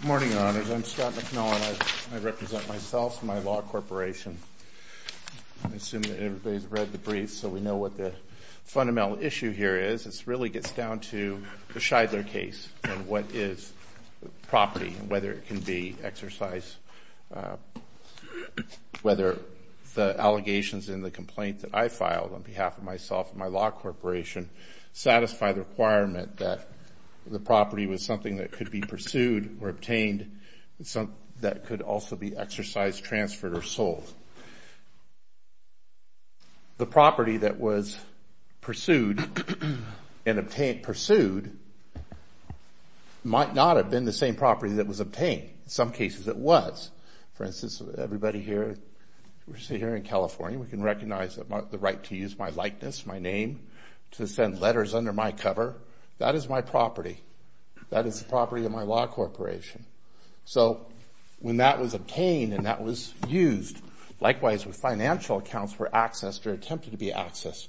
Good morning, Your Honors. I'm Scott McMillan. I represent myself and my law corporation. I assume that everybody's read the brief, so we know what the fundamental issue here is. It really gets down to the Scheidler case and what is property and whether it can be exercised, whether the allegations in the complaint that I filed on behalf of myself and my law corporation satisfy the requirement that the property was something that could be pursued or obtained, that could also be exercised, transferred, or sold. The property that was pursued might not have been the same property that was obtained. In some cases it was. For instance, everybody here in California, we can recognize the right to use my likeness, my name, to send letters under my cover. That is my property. That is my property. That is property of my law corporation. So when that was obtained and that was used, likewise with financial accounts were accessed or attempted to be accessed,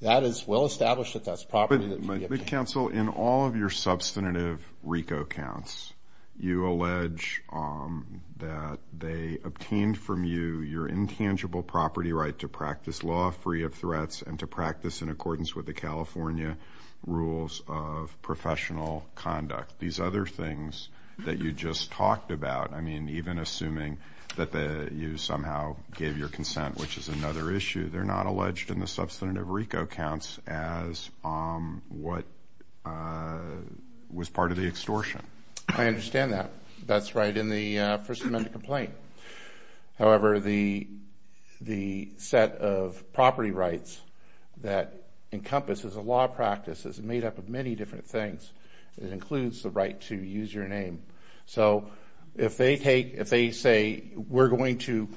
that is well established that that's property that can be obtained. In all of your substantive RICO counts, you allege that they obtained from you your intangible property right to practice law free of threats and to practice in accordance with the California rules of professional conduct. These other things that you just talked about, even assuming that you somehow gave your consent, which is another issue, they're not alleged in the substantive RICO counts as what was part of the extortion. I understand that. That's right in the First Amendment complaint. However, the set of property rights that encompasses a law practice is made up of many different things. It includes the right to use your name. So if they say, you're going to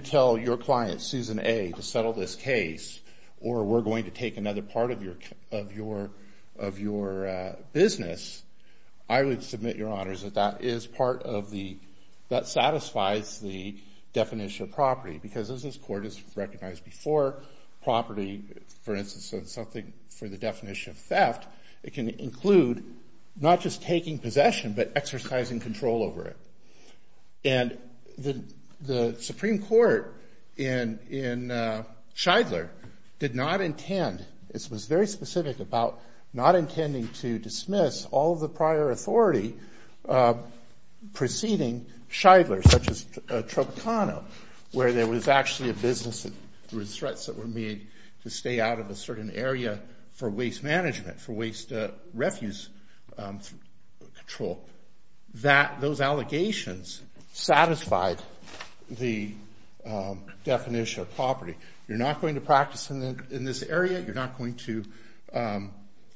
tell your client, Susan A., to settle this case, or we're going to take another part of your business, I would submit, Your Honors, that that satisfies the definition of property. Because as this Court has recognized before, property, for instance, is something for the definition of theft. It can include not just taking possession, but exercising control over it. And the Supreme Court in Shidler did not intend, it was very specific about not intending to dismiss all of the prior authority preceding Shidler, such as Tropicana, where there was actually a business, there were threats that were made to stay out of a certain area for waste management, for waste refuse control. That those allegations satisfied the definition of property. You're not going to practice in this area, you're not going to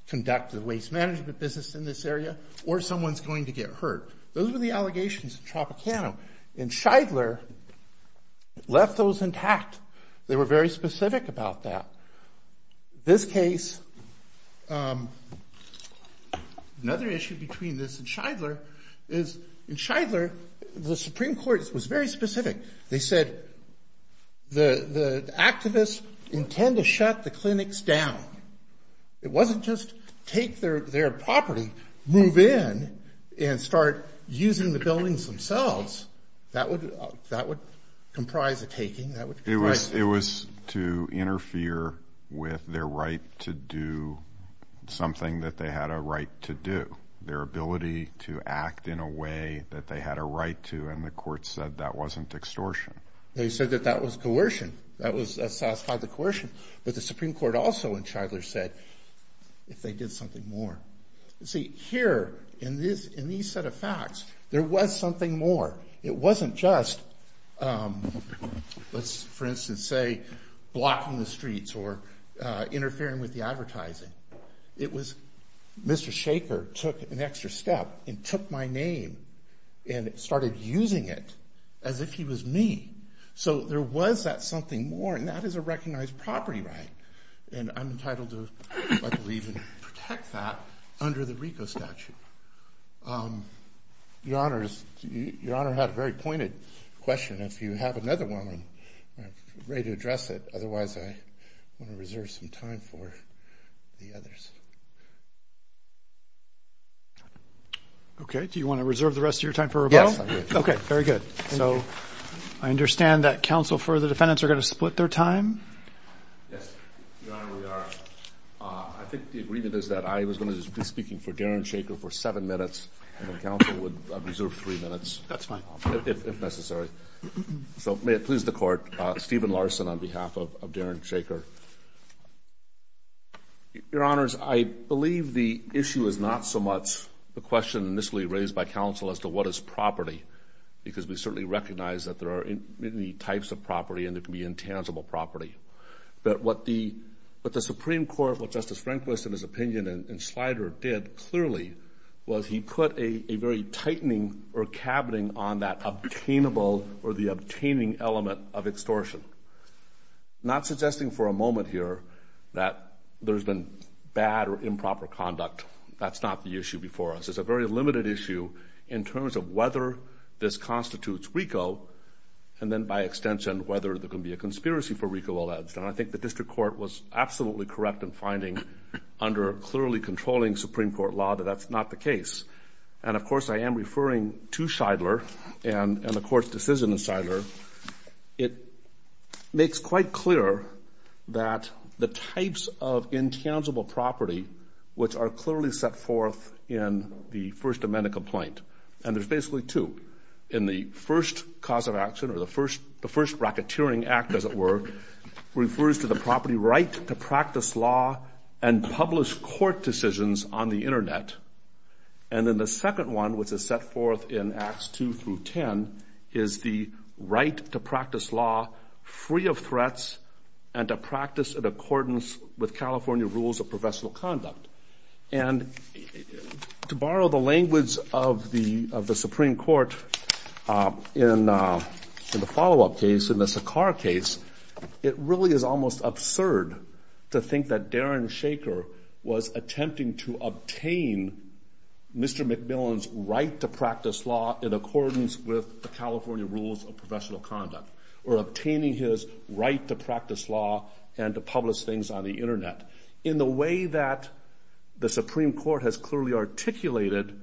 conduct the waste management business in this area, or someone's going to get hurt. Those were the allegations in Tropicana. In Shidler, it left those intact. They were very specific about that. This case, another issue between this and Shidler, is in Shidler, the Supreme Court was very specific. They said the activists intend to shut the clinics down. It wasn't just take their property, move in, and start using the buildings themselves. That would comprise a taking. It was to interfere with their right to do something that they had a right to do. Their ability to act in a way that they had a right to, and the court said that wasn't extortion. They said that that was coercion. That satisfied the coercion. But the Supreme Court also, in Shidler, said, if they did something more. See, here, in these set of facts, there was something more. It wasn't just, let's for instance say, blocking the streets or interfering with the advertising. It was, Mr. Shaker took an extra step and took my name and started using it as if he was me. So there was that something more, and that is a recognized property right. And I'm entitled to, I believe, protect that under the RICO statute. Your Honor had a very pointed question. If you have another one, I'm ready to address it. Otherwise, I want to reserve some time for the others. Okay. Do you want to reserve the rest of your time for Roboto? Yes, I do. Okay, very good. So I understand that counsel for the defendants are going to split their time? Yes, Your Honor, we are. I think the agreement is that I was going to be speaking for Darren Shaker for seven minutes, and then counsel would reserve three minutes. That's fine. If necessary. So may it please the court, Stephen Larson on behalf of Darren Shaker. Your Honors, I believe the issue is not so much the question initially raised by counsel as to what is property, because we certainly recognize that there are many types of property and there can be intangible property. But what the Supreme Court, what Justice Rehnquist in his opinion and Slider did clearly was he put a very tightening or cabining on that obtainable or the obtaining element of extortion. Not suggesting for a moment here that there's been bad or improper conduct. That's not the issue before us. It's a very limited issue in terms of whether this constitutes RICO and then by extension whether there can be a conspiracy for RICO alleged. And I think the district court was absolutely correct in finding under a clearly controlling Supreme Court law that that's not the case. And of course I am referring to Shidler and the court's decision in Shidler. It makes quite clear that the types of intangible property which are clearly set forth in the First Amendment complaint. And there's basically two. In the first cause of action or the first racketeering act as it were, refers to the property right to practice law and publish court decisions on the Internet. And then the second one which is set forth in Acts 2 through 10 is the right to practice law free of threats and to practice in accordance with California rules of professional conduct. And to borrow the language of the Supreme Court in the follow-up case, in the Sakar case, it really is almost absurd to think that Darren Shaker was attempting to obtain the right to practice law. Obtaining Mr. MacMillan's right to practice law in accordance with the California rules of professional conduct or obtaining his right to practice law and to publish things on the Internet in the way that the Supreme Court has clearly articulated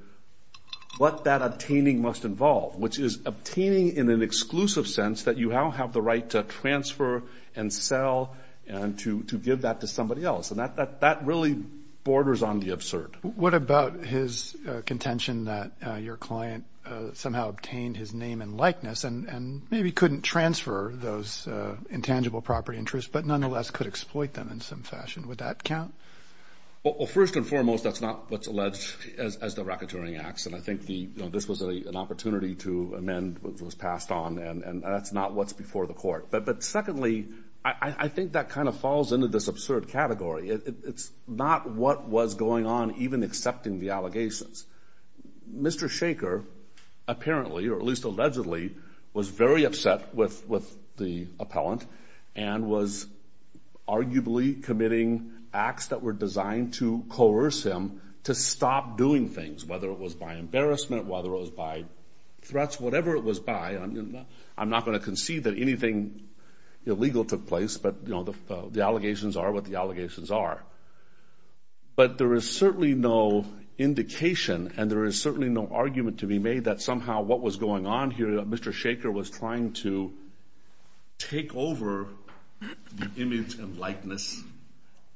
what that obtaining must involve, which is obtaining in an exclusive sense that you now have the right to transfer and sell and to give that to somebody else. And that really borders on the absurd. What about his contention that your client somehow obtained his name and likeness and maybe couldn't transfer those intangible property interests but nonetheless could exploit them in some fashion? Would that count? Well, first and foremost, that's not what's alleged as the racketeering acts. And I think this was an opportunity to amend what was passed on and that's not what's before the court. But secondly, I think that kind of falls into this absurd category. It's not what was going on even accepting the allegations. Mr. Shaker apparently or at least allegedly was very upset with the appellant and was arguably committing acts that were designed to coerce him to stop doing things, whether it was by embarrassment, whether it was by threats, whatever it was by. I'm not going to concede that anything illegal took place, but the allegations are what the allegations are. But there is certainly no indication and there is certainly no argument to be made that somehow what was going on here, Mr. Shaker was trying to take over the image and likeness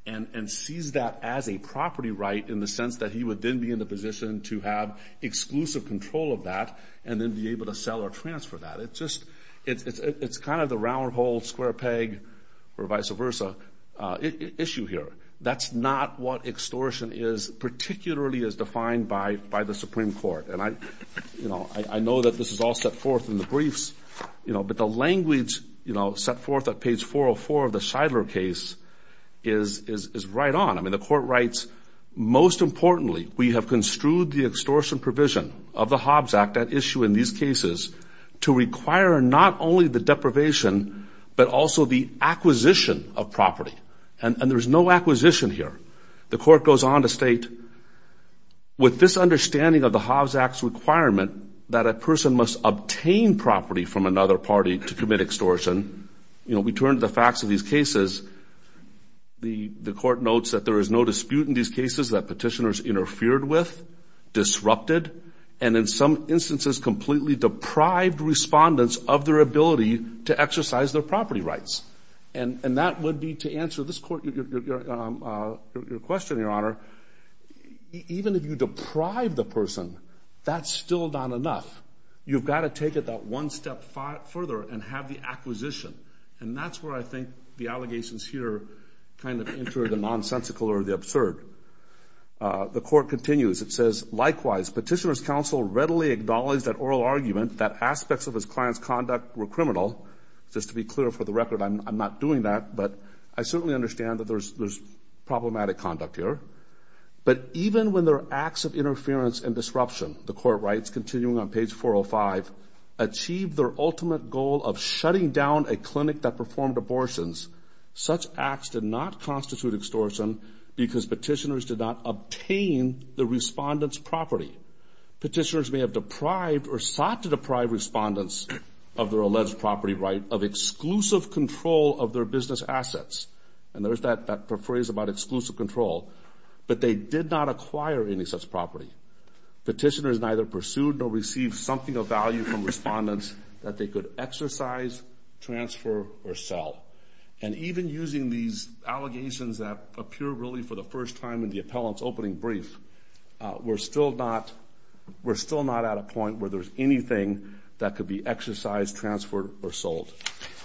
and seize that as a property right in the sense that he would then be in a position to have exclusive control of that and then be able to sell or transfer that. It's kind of the round hole, square peg or vice versa issue here. That's not what extortion is particularly as defined by the Supreme Court. And I know that this is all set forth in the briefs, but the language set forth at page 404 of the Scheidler case is right on. I mean, the court writes, most importantly, we have construed the extortion provision of the Hobbs Act at issue in these cases to require not only the deprivation, but also the acquisition of property. And there's no acquisition here. The court goes on to state, with this understanding of the Hobbs Act's requirement that a person must obtain property from another party to commit extortion. You know, we turn to the facts of these cases. The court notes that there is no dispute in these cases that petitioners interfered with, disrupted, and in some instances completely deprived respondents of their ability to exercise their property rights. And that would be to answer this court, your question, Your Honor, even if you deprive the person, that's still not enough. You've got to take it that one step further and have the acquisition. And that's where I think the allegations here kind of enter the nonsensical or the absurd. The court continues. It says, likewise, petitioner's counsel readily acknowledged that oral argument, that aspects of his client's conduct were criminal. Just to be clear, for the record, I'm not doing that, but I certainly understand that there's problematic conduct here. But even when their acts of interference and disruption, the court writes, continuing on page 405, achieved their ultimate goal of shutting down a clinic that performed abortions, such acts did not constitute extortion because petitioners did not obtain the respondent's property. Petitioners may have deprived or sought to deprive respondents of their alleged property right of exclusive control of their business assets. And there's that phrase about exclusive control. But they did not acquire any such property. Petitioners neither pursued nor received something of value from respondents that they could exercise, transfer, or sell. And even using these allegations that appear really for the first time in the appellant's opening brief, we're still not at a point where there's anything that could be exercised, transferred, or sold.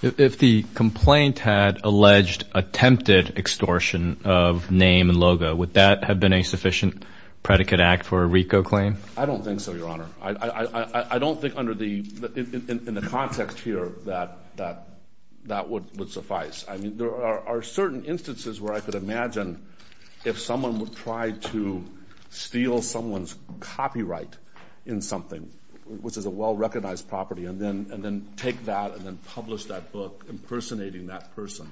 If the complaint had alleged attempted extortion of name and logo, would that have been a sufficient predicate act for a RICO claim? I don't think so, Your Honor. I don't think in the context here that that would suffice. I mean, there are certain instances where I could imagine if someone would try to steal someone's copyright in something, which is a well-recognized property, and then take that and then publish that book impersonating that person.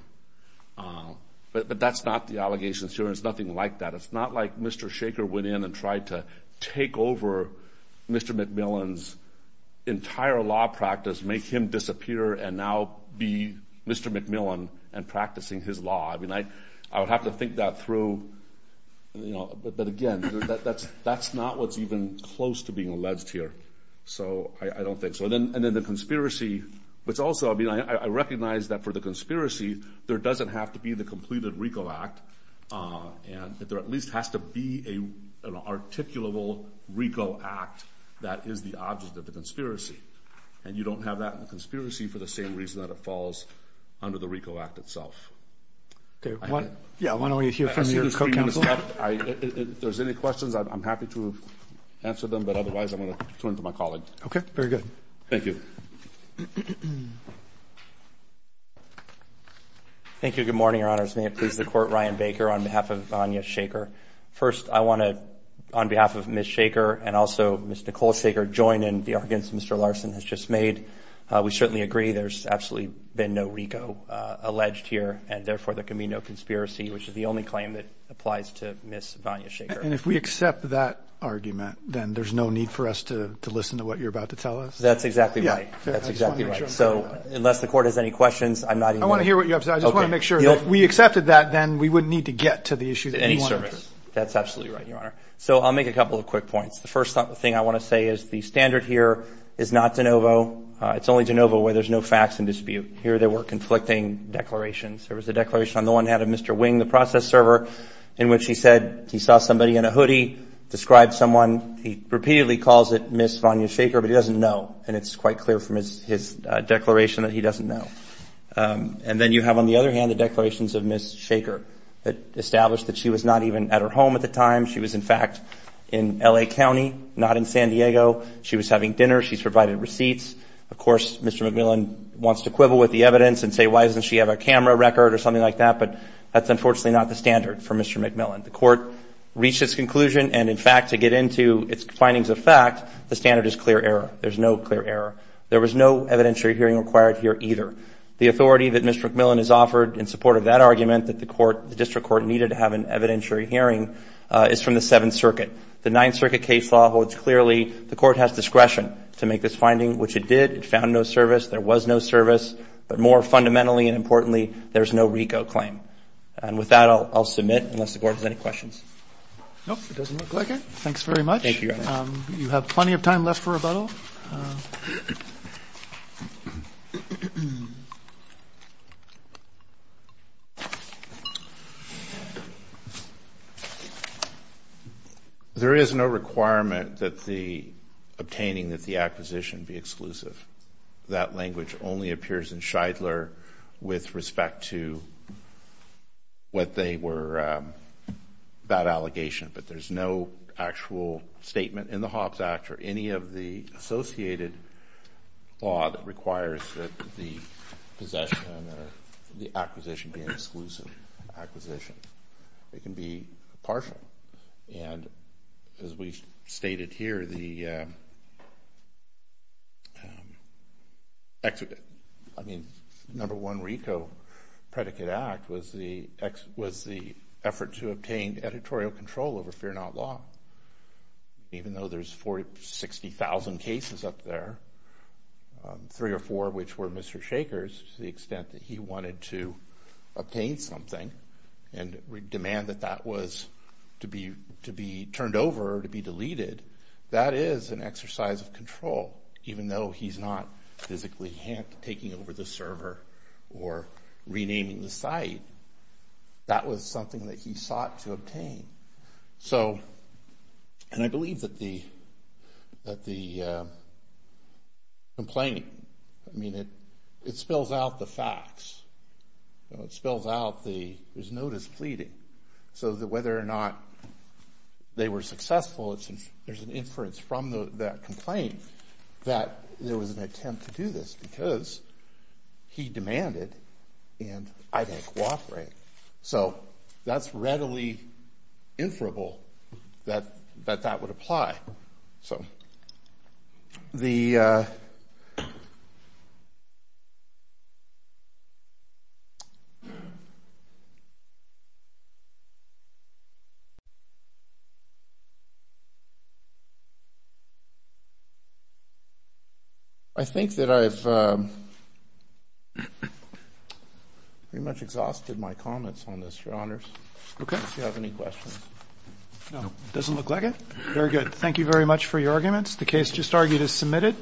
But that's not the allegations here. It's nothing like that. It's not like Mr. Shaker went in and tried to take over Mr. McMillan's entire law practice, make him disappear, and now be Mr. McMillan and practicing his law. I mean, I would have to think that through. But, again, that's not what's even close to being alleged here. So I don't think so. And then the conspiracy, which also, I mean, I recognize that for the conspiracy, there doesn't have to be the completed RICO Act, and that there at least has to be an articulable RICO Act that is the object of the conspiracy. And you don't have that in the conspiracy for the same reason that it falls under the RICO Act itself. Okay. Yeah, why don't we hear from your co-counsel? If there's any questions, I'm happy to answer them, but otherwise I'm going to turn to my colleague. Okay. Very good. Thank you. Thank you. Good morning, Your Honors. May it please the Court, Ryan Baker on behalf of Anya Shaker. First, I want to, on behalf of Ms. Shaker and also Ms. Nicole Shaker, join in the arguments Mr. Larson has just made. We certainly agree there's absolutely been no RICO alleged here, and therefore there can be no conspiracy, which is the only claim that applies to Ms. Vanya Shaker. And if we accept that argument, then there's no need for us to listen to what you're about to tell us? That's exactly right. That's exactly right. So unless the Court has any questions, I'm not even going to. I want to hear what you have to say. I just want to make sure. If we accepted that, then we wouldn't need to get to the issue that you wanted to. Any service. That's absolutely right, Your Honor. So I'll make a couple of quick points. The first thing I want to say is the standard here is not de novo. It's only de novo where there's no facts in dispute. Here there were conflicting declarations. There was a declaration on the one hand of Mr. Wing, the process server, in which he said he saw somebody in a hoodie, described someone. He repeatedly calls it Ms. Vanya Shaker, but he doesn't know, and it's quite clear from his declaration that he doesn't know. And then you have, on the other hand, the declarations of Ms. Shaker that established that she was not even at her home at the time. She was, in fact, in L.A. County, not in San Diego. She was having dinner. She's provided receipts. Of course, Mr. McMillan wants to quibble with the evidence and say why doesn't she have a camera record or something like that, but that's unfortunately not the standard for Mr. McMillan. The Court reached its conclusion, and, in fact, to get into its findings of fact, the standard is clear error. There's no clear error. There was no evidentiary hearing required here either. The authority that Mr. McMillan has offered in support of that argument that the District Court needed to have an evidentiary hearing is from the Seventh Circuit. The Ninth Circuit case law holds clearly the Court has discretion to make this finding, which it did. It found no service. There was no service. But more fundamentally and importantly, there's no RICO claim. And with that, I'll submit, unless the Court has any questions. No, it doesn't look like it. Thanks very much. Thank you, Your Honor. You have plenty of time left for rebuttal. There is no requirement that the obtaining of the acquisition be exclusive. That language only appears in Shidler with respect to what they were about allegation, but there's no actual statement in the Hobbs Act or any of the associated law that requires that the possession or the acquisition be an exclusive acquisition. It can be partial. And as we stated here, the number one RICO predicate act was the effort to obtain editorial control over Fear Not Law. Even though there's 60,000 cases up there, three or four of which were Mr. Shaker's, to the extent that he wanted to obtain something and demand that that was to be turned over or to be deleted, that is an exercise of control. Even though he's not physically taking over the server or renaming the site, that was something that he sought to obtain. And I believe that the complaint, I mean, it spills out the facts. It spills out there's no displeading. So whether or not they were successful, there's an inference from that complaint that there was an attempt to do this because he demanded and I didn't cooperate. So that's readily inferable that that would apply. I think that I've pretty much exhausted my comments on this, Your Honors. Okay. If you have any questions. No. Doesn't look like it. Very good. Thank you very much for your arguments. The case just argued is submitted.